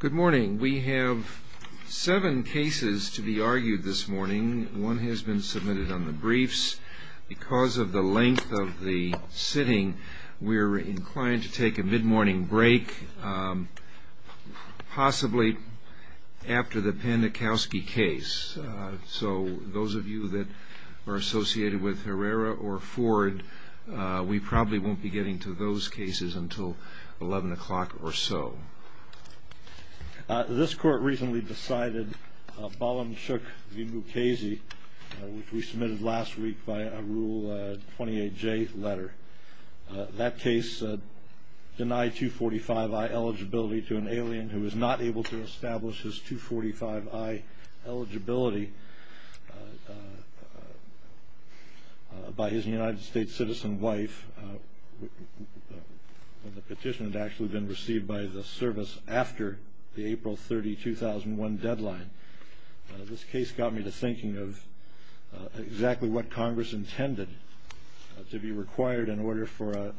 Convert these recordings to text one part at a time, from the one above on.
Good morning. We have seven cases to be argued this morning. One has been submitted on the briefs. Because of the length of the sitting, we're inclined to take a mid-morning break, possibly after the Panakowski case. So those of you that are associated with Herrera or Ford, we probably won't be getting to those cases until 11 o'clock or so. This Court recently decided Balanchuk v. Mukasey, which we submitted last week by a Rule 28J letter. That case denied 245i eligibility to an alien who was not able to establish his 245i eligibility by his United States citizen wife when the petition had actually been received by the service after the April 30, 2001 deadline. This case got me to thinking of exactly what Congress intended to be required in order for a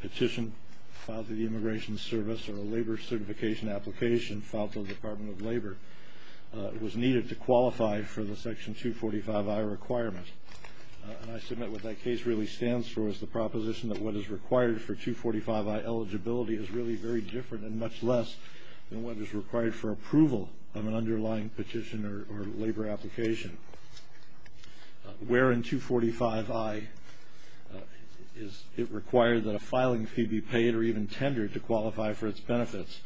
petition filed to the Immigration Service or was needed to qualify for the Section 245i requirement. And I submit what that case really stands for is the proposition that what is required for 245i eligibility is really very different and much less than what is required for approval of an underlying petition or labor application. Where in 245i is it required that a filing fee be paid or even tendered to qualify for its benefits?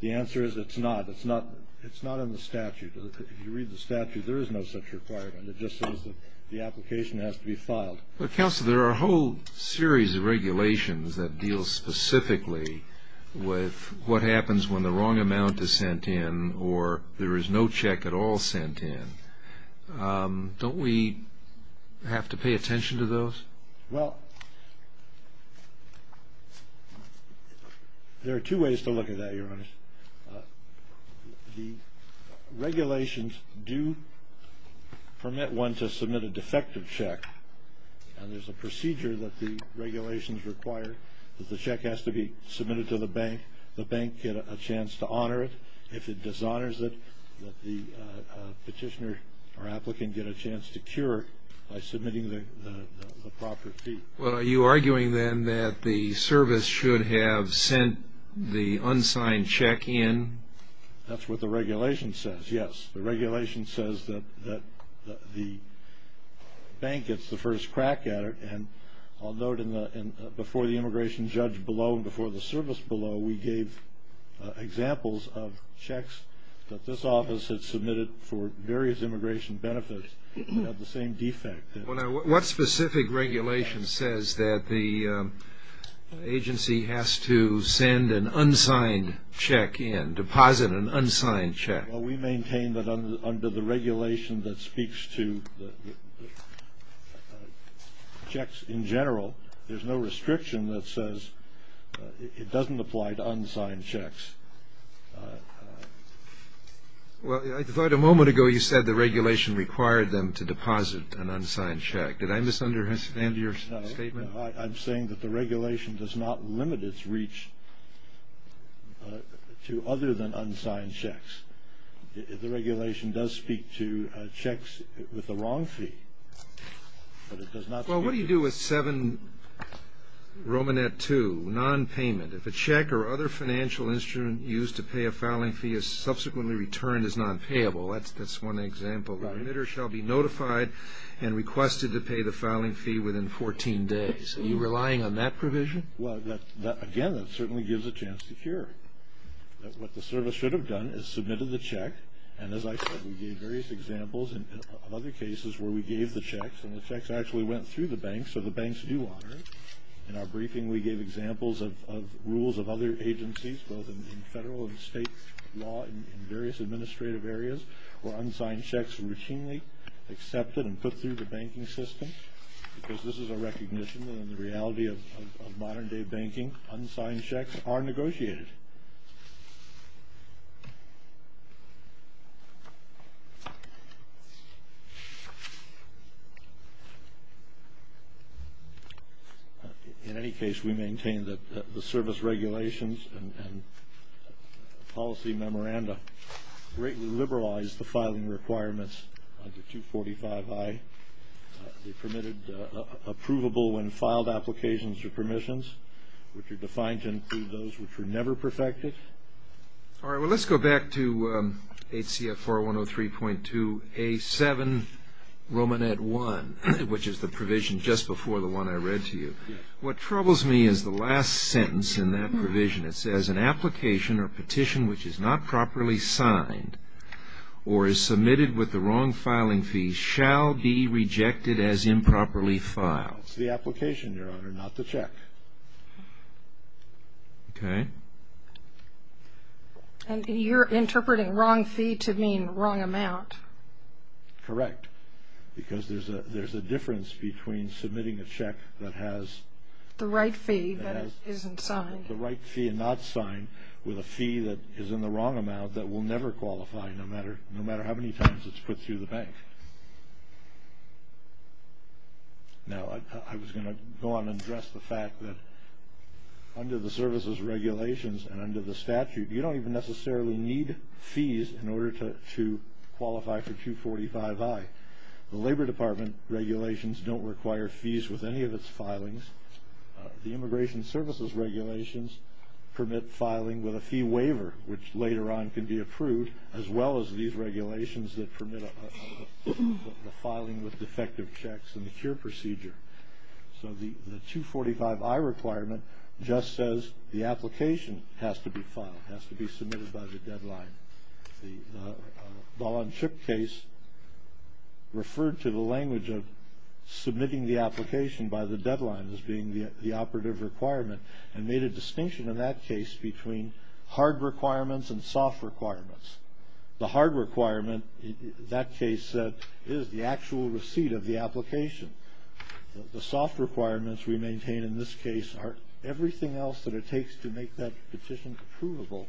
The answer is it's not. It's not in the statute. If you read the statute, there is no such requirement. It just says that the application has to be filed. But, Counselor, there are a whole series of regulations that deal specifically with what happens when the wrong amount is sent in or there is no check at all sent in. Don't we have to pay attention to those? Well, there are two ways to look at that, Your Honor. The regulations do permit one to submit a defective check, and there's a procedure that the regulations require that the check has to be submitted to the bank. The bank gets a chance to honor it. If it dishonors it, the petitioner or applicant gets a chance to cure it by submitting the proper fee. Well, are you arguing then that the service should have sent the unsigned check in? That's what the regulation says, yes. The regulation says that the bank gets the first crack at it. And I'll note before the immigration judge below and before the service below, we gave examples of checks that this office had submitted for various immigration benefits that have the same defect. What specific regulation says that the agency has to send an unsigned check in, deposit an unsigned check? Well, we maintain that under the regulation that speaks to checks in general, there's no restriction that says it doesn't apply to unsigned checks. Well, I thought a moment ago you said the regulation required them to deposit an unsigned check. Did I misunderstand your statement? No. I'm saying that the regulation does not limit its reach to other than unsigned checks. The regulation does speak to checks with the wrong fee, but it does not speak to them. Well, what do you do with 7 Romanet 2, nonpayment? If a check or other financial instrument used to pay a filing fee is subsequently returned as nonpayable, that's one example. The emitter shall be notified and requested to pay the filing fee within 14 days. Are you relying on that provision? Well, again, that certainly gives a chance to cure it. What the service should have done is submitted the check, and as I said we gave various examples of other cases where we gave the checks, and the checks actually went through the bank, so the banks do honor it. In our briefing we gave examples of rules of other agencies, both in federal and state law in various administrative areas where unsigned checks were routinely accepted and put through the banking system because this is a recognition that in the reality of modern day banking, unsigned checks are negotiated. In any case, we maintain that the service regulations and policy memoranda greatly liberalized the filing requirements under 245I. They permitted approvable when filed applications or permissions, which are defined to include those which were never perfected. All right, well let's go back to HCF 4103.2A7 Romanet 1, which is the provision just before the one I read to you. What troubles me is the last sentence in that provision. It says an application or petition which is not properly signed or is submitted with the wrong filing fee shall be rejected as improperly filed. It's the application, Your Honor, not the check. Okay. And you're interpreting wrong fee to mean wrong amount. Correct, because there's a difference between submitting a check that has The right fee that isn't signed. The right fee not signed with a fee that is in the wrong amount that will never qualify, no matter how many times it's put through the bank. Now, I was going to go on and address the fact that under the services regulations and under the statute, you don't even necessarily need fees in order to qualify for 245I. The Labor Department regulations don't require fees with any of its filings. The Immigration Services regulations permit filing with a fee waiver, which later on can be approved, as well as these regulations that permit the filing with defective checks and the cure procedure. So the 245I requirement just says the application has to be filed, has to be submitted by the deadline. The Ball and Chip case referred to the language of submitting the application by the deadline as being the operative requirement and made a distinction in that case between hard requirements and soft requirements. The hard requirement, that case said, is the actual receipt of the application. The soft requirements we maintain in this case are everything else that it takes to make that petition approvable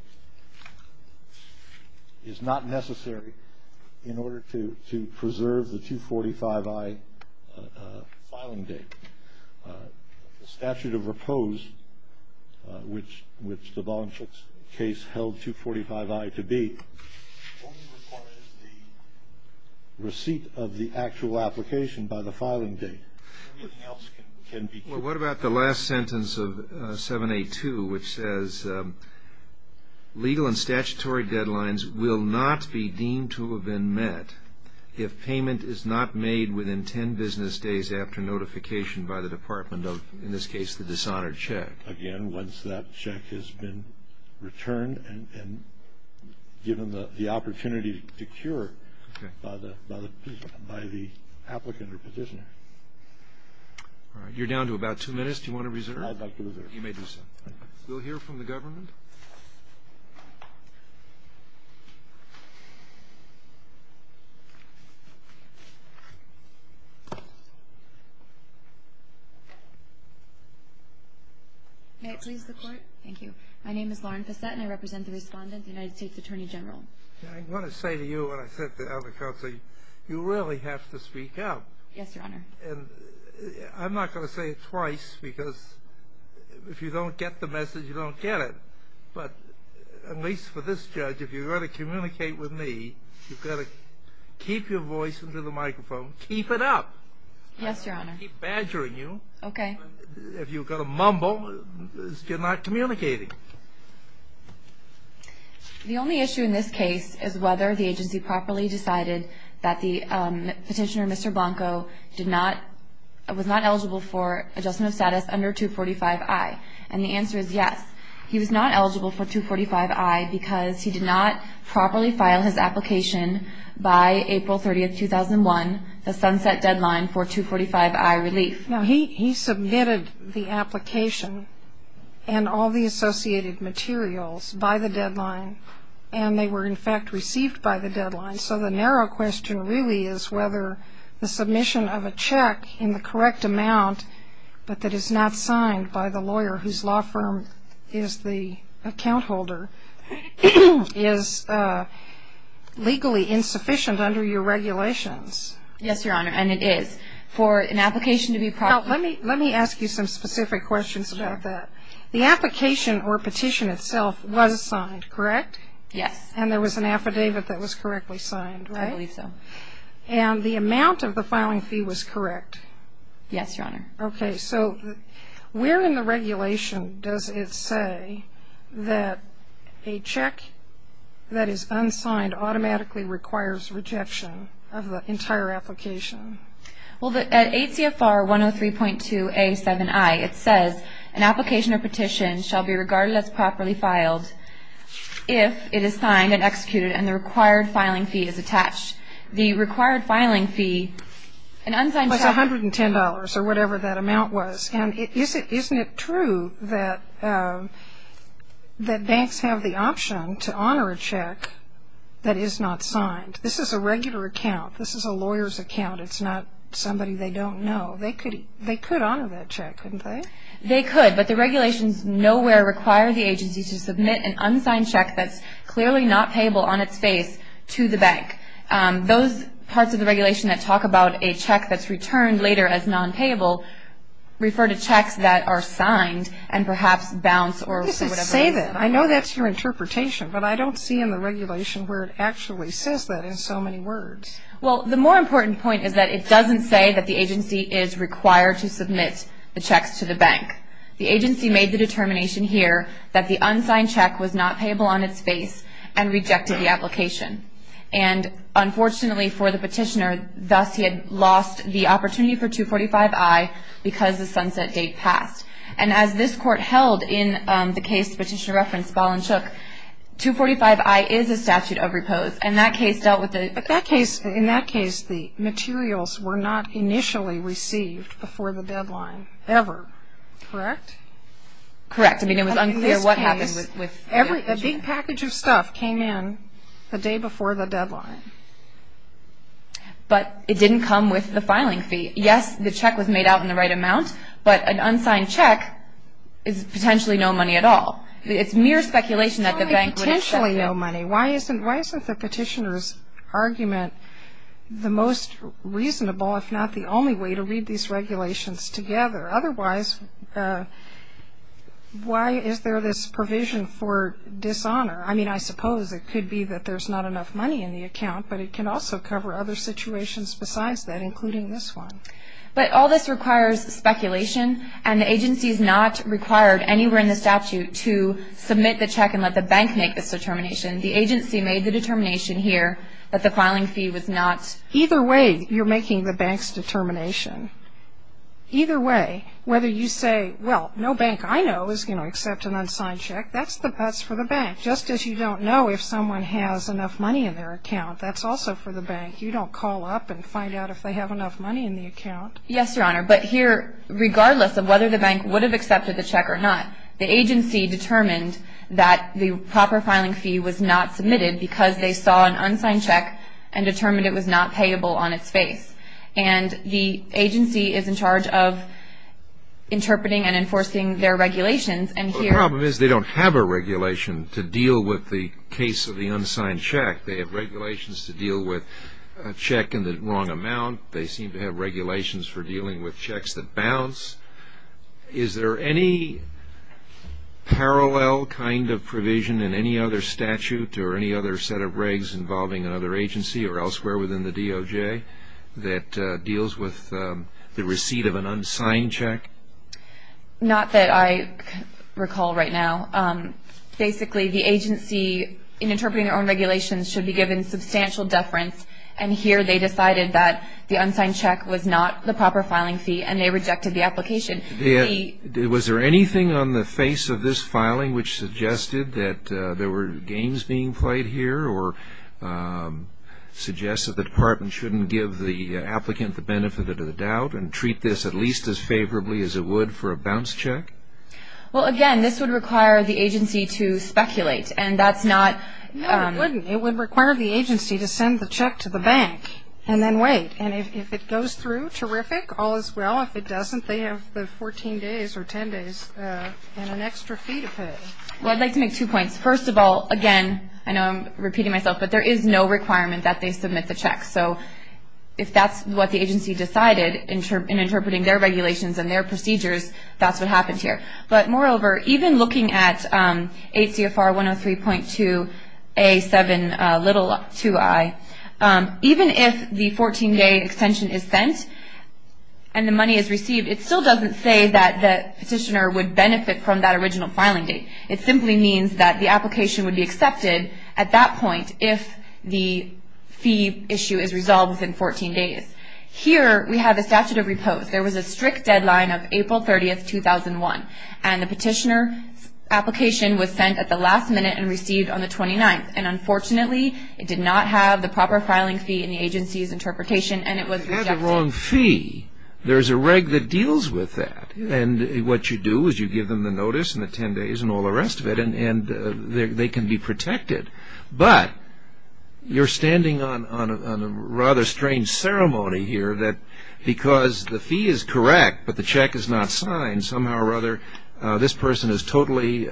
is not necessary in order to preserve the 245I filing date. The statute of repose, which the Ball and Chip case held 245I to be, only requires the receipt of the actual application by the filing date. Everything else can be kept. Well, what about the last sentence of 7A2, which says, legal and statutory deadlines will not be deemed to have been met if payment is not made within 10 business days after notification by the Department of, in this case, the dishonored check. Again, once that check has been returned and given the opportunity to cure by the applicant or petitioner. All right, you're down to about two minutes. Do you want to reserve? I'd like to reserve. You may do so. We'll hear from the government. May it please the Court. Thank you. My name is Lauren Fassette, and I represent the respondent, the United States Attorney General. I want to say to you, and I said to other counsel, you really have to speak up. Yes, Your Honor. And I'm not going to say it twice, because if you don't get the message, you don't get it. But at least for this judge, if you're going to communicate with me, you've got to keep your voice into the microphone. Keep it up. Yes, Your Honor. I don't want to keep badgering you. Okay. But if you're going to mumble, you're not communicating. The only issue in this case is whether the agency properly decided that the petitioner, Mr. Blanco, was not eligible for adjustment of status under 245i. And the answer is yes. He was not eligible for 245i because he did not properly file his application by April 30, 2001, the sunset deadline for 245i relief. Now, he submitted the application and all the associated materials by the deadline, and they were, in fact, received by the deadline. So the narrow question really is whether the submission of a check in the correct amount, but that is not signed by the lawyer whose law firm is the account holder, is legally insufficient under your regulations. Yes, Your Honor, and it is. For an application to be properly. Let me ask you some specific questions about that. The application or petition itself was signed, correct? Yes. And there was an affidavit that was correctly signed, right? I believe so. And the amount of the filing fee was correct? Yes, Your Honor. Okay. So where in the regulation does it say that a check that is unsigned automatically requires rejection of the entire application? Well, at ACFR 103.2a7i, it says, an application or petition shall be regarded as properly filed if it is signed and executed and the required filing fee is attached. The required filing fee, an unsigned check. Was $110 or whatever that amount was. And isn't it true that banks have the option to honor a check that is not signed? This is a regular account. This is a lawyer's account. It's not somebody they don't know. They could honor that check, couldn't they? They could, but the regulations nowhere require the agency to submit an unsigned check that's clearly not payable on its face to the bank. Those parts of the regulation that talk about a check that's returned later as nonpayable refer to checks that are signed and perhaps bounce or whatever. What does it say then? I know that's your interpretation, but I don't see in the regulation where it actually says that in so many words. Well, the more important point is that it doesn't say that the agency is required to submit the checks to the bank. The agency made the determination here that the unsigned check was not payable on its face and rejected the application. And unfortunately for the petitioner, thus he had lost the opportunity for 245I because the sunset date passed. And as this court held in the case the petitioner referenced, Ball and Shook, 245I is a statute of repose. And that case dealt with it. But in that case, the materials were not initially received before the deadline ever, correct? Correct. I mean, it was unclear what happened with it. A big package of stuff came in the day before the deadline. But it didn't come with the filing fee. Yes, the check was made out in the right amount, but an unsigned check is potentially no money at all. It's mere speculation that the bank would accept it. Why potentially no money? Why isn't the petitioner's argument the most reasonable if not the only way to read these regulations together? Otherwise, why is there this provision for dishonor? I mean, I suppose it could be that there's not enough money in the account, but it can also cover other situations besides that, including this one. But all this requires speculation, and the agency is not required anywhere in the statute to submit the check and let the bank make this determination. The agency made the determination here that the filing fee was not. Either way, you're making the bank's determination. Either way, whether you say, well, no bank I know is going to accept an unsigned check, that's for the bank. Just as you don't know if someone has enough money in their account, that's also for the bank. You don't call up and find out if they have enough money in the account. Yes, Your Honor. But here, regardless of whether the bank would have accepted the check or not, the agency determined that the proper filing fee was not submitted because they saw an unsigned check and determined it was not payable on its face. And the agency is in charge of interpreting and enforcing their regulations. The problem is they don't have a regulation to deal with the case of the unsigned check. They have regulations to deal with a check in the wrong amount. They seem to have regulations for dealing with checks that bounce. Is there any parallel kind of provision in any other statute or any other set of regs involving another agency or elsewhere within the DOJ that deals with the receipt of an unsigned check? Not that I recall right now. Basically, the agency, in interpreting their own regulations, should be given substantial deference, and here they decided that the unsigned check was not the proper filing fee and they rejected the application. Was there anything on the face of this filing which suggested that there were games being played here or suggests that the department shouldn't give the applicant the benefit of the doubt and treat this at least as favorably as it would for a bounce check? Well, again, this would require the agency to speculate, and that's not... No, it wouldn't. It would require the agency to send the check to the bank and then wait. And if it goes through, terrific, all is well. If it doesn't, they have the 14 days or 10 days and an extra fee to pay. Well, I'd like to make two points. First of all, again, I know I'm repeating myself, but there is no requirement that they submit the check. So if that's what the agency decided in interpreting their regulations and their procedures, that's what happened here. But moreover, even looking at ACFR 103.2A72i, even if the 14-day extension is sent and the money is received, it still doesn't say that the petitioner would benefit from that original filing date. It simply means that the application would be accepted at that point if the fee issue is resolved within 14 days. Here we have the statute of repose. There was a strict deadline of April 30th, 2001, and the petitioner's application was sent at the last minute and received on the 29th. And unfortunately, it did not have the proper filing fee in the agency's interpretation, and it was rejected. It had the wrong fee. There's a reg that deals with that. And what you do is you give them the notice and the 10 days and all the rest of it, and they can be protected. But you're standing on a rather strange ceremony here that because the fee is correct but the check is not signed, somehow or other this person is totally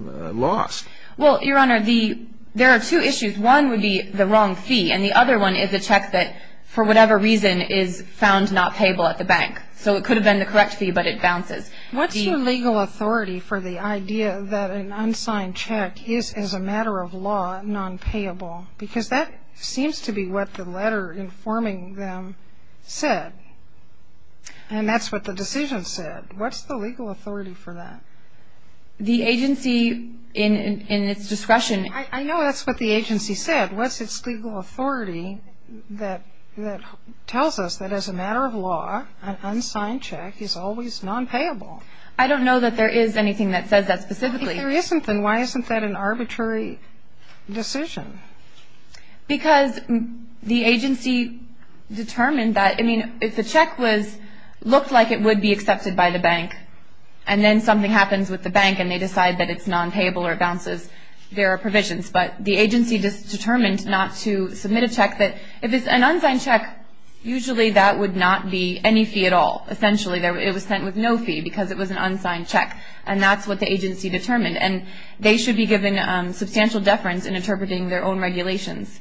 lost. Well, Your Honor, there are two issues. One would be the wrong fee, and the other one is a check that, for whatever reason, is found not payable at the bank. So it could have been the correct fee, but it bounces. What's your legal authority for the idea that an unsigned check is, as a matter of law, nonpayable? Because that seems to be what the letter informing them said, and that's what the decision said. What's the legal authority for that? The agency, in its discretion – I know that's what the agency said. What's its legal authority that tells us that, as a matter of law, an unsigned check is always nonpayable? I don't know that there is anything that says that specifically. If there isn't, then why isn't that an arbitrary decision? Because the agency determined that – I mean, if the check looked like it would be accepted by the bank and then something happens with the bank and they decide that it's nonpayable or it bounces, there are provisions. But the agency determined not to submit a check that – if it's an unsigned check, usually that would not be any fee at all. Essentially, it was sent with no fee because it was an unsigned check, and that's what the agency determined. And they should be given substantial deference in interpreting their own regulations.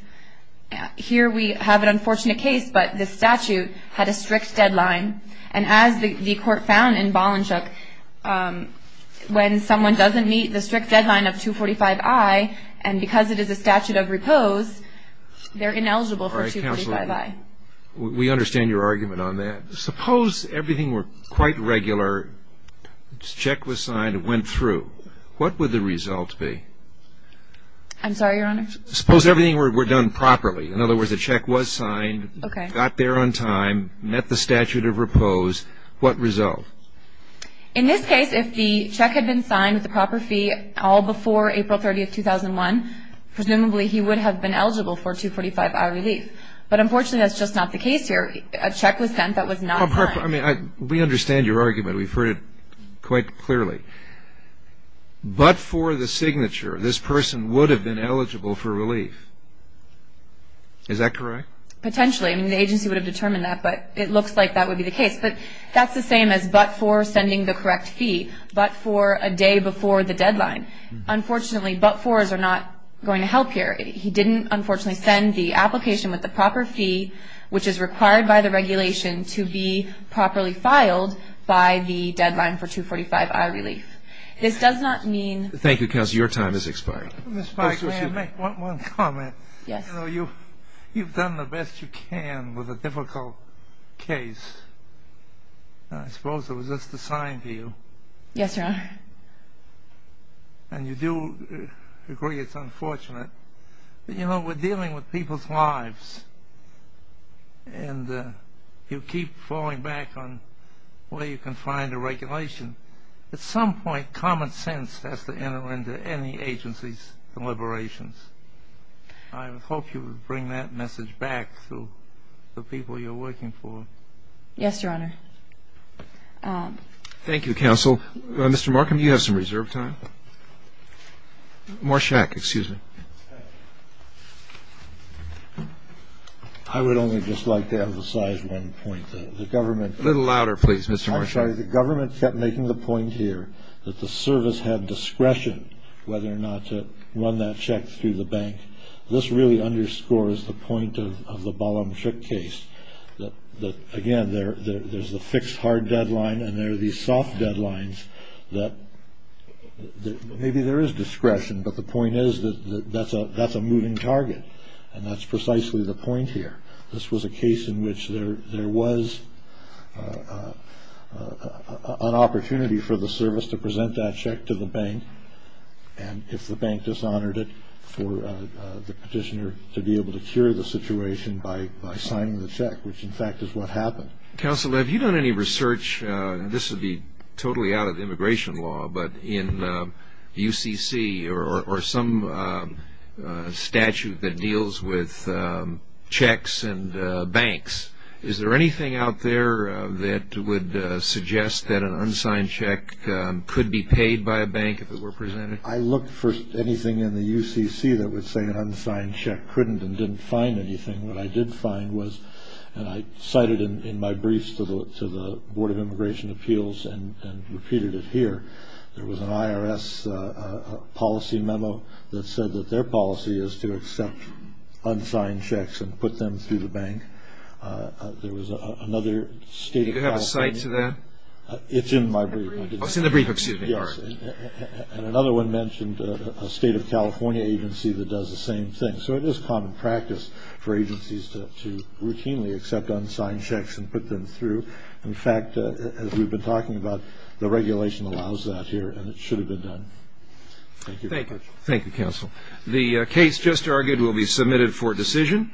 Here we have an unfortunate case, but the statute had a strict deadline, and as the court found in Bollenshoek, when someone doesn't meet the strict deadline of 245I, and because it is a statute of repose, they're ineligible for 245I. All right, Counselor, we understand your argument on that. Suppose everything were quite regular, check was signed, it went through. What would the result be? I'm sorry, Your Honor? Suppose everything were done properly. In other words, the check was signed, got there on time, met the statute of repose. What result? In this case, if the check had been signed with the proper fee all before April 30, 2001, presumably he would have been eligible for 245I relief. But unfortunately, that's just not the case here. A check was sent that was not signed. We understand your argument. We've heard it quite clearly. But for the signature, this person would have been eligible for relief. Is that correct? Potentially. I mean, the agency would have determined that, but it looks like that would be the case. But that's the same as but for sending the correct fee, but for a day before the deadline. Unfortunately, but fors are not going to help here. He didn't, unfortunately, send the application with the proper fee, which is required by the regulation to be properly filed by the deadline for 245I relief. This does not mean. Thank you, counsel. Your time has expired. Ms. Feiglin, may I make one comment? Yes. You know, you've done the best you can with a difficult case. I suppose it was just a sign to you. Yes, Your Honor. And you do agree it's unfortunate. But, you know, we're dealing with people's lives, and you keep falling back on where you can find a regulation. At some point, common sense has to enter into any agency's deliberations. I would hope you would bring that message back to the people you're working for. Yes, Your Honor. Thank you, counsel. Mr. Markham, you have some reserve time. Morshak, excuse me. I would only just like to emphasize one point. The government. A little louder, please, Mr. Morshak. Actually, the government kept making the point here that the service had discretion whether or not to run that check through the bank. This really underscores the point of the Ballam Shook case, that, again, there's the fixed hard deadline and there are these soft deadlines that maybe there is discretion, but the point is that that's a moving target, and that's precisely the point here. This was a case in which there was an opportunity for the service to present that check to the bank, and if the bank dishonored it for the petitioner to be able to cure the situation by signing the check, which, in fact, is what happened. Counsel, have you done any research, and this would be totally out of immigration law, but in UCC or some statute that deals with checks and banks, is there anything out there that would suggest that an unsigned check could be paid by a bank if it were presented? I looked for anything in the UCC that would say an unsigned check couldn't and didn't find anything. What I did find was, and I cited in my briefs to the Board of Immigration Appeals and repeated it here, there was an IRS policy memo that said that their policy is to accept unsigned checks and put them through the bank. There was another state of California... Do you have a cite to that? It's in my brief. Oh, it's in the brief. And another one mentioned a state of California agency that does the same thing. So it is common practice for agencies to routinely accept unsigned checks and put them through. In fact, as we've been talking about, the regulation allows that here, and it should have been done. Thank you. Thank you. Thank you, Counsel. The case just argued will be submitted for decision.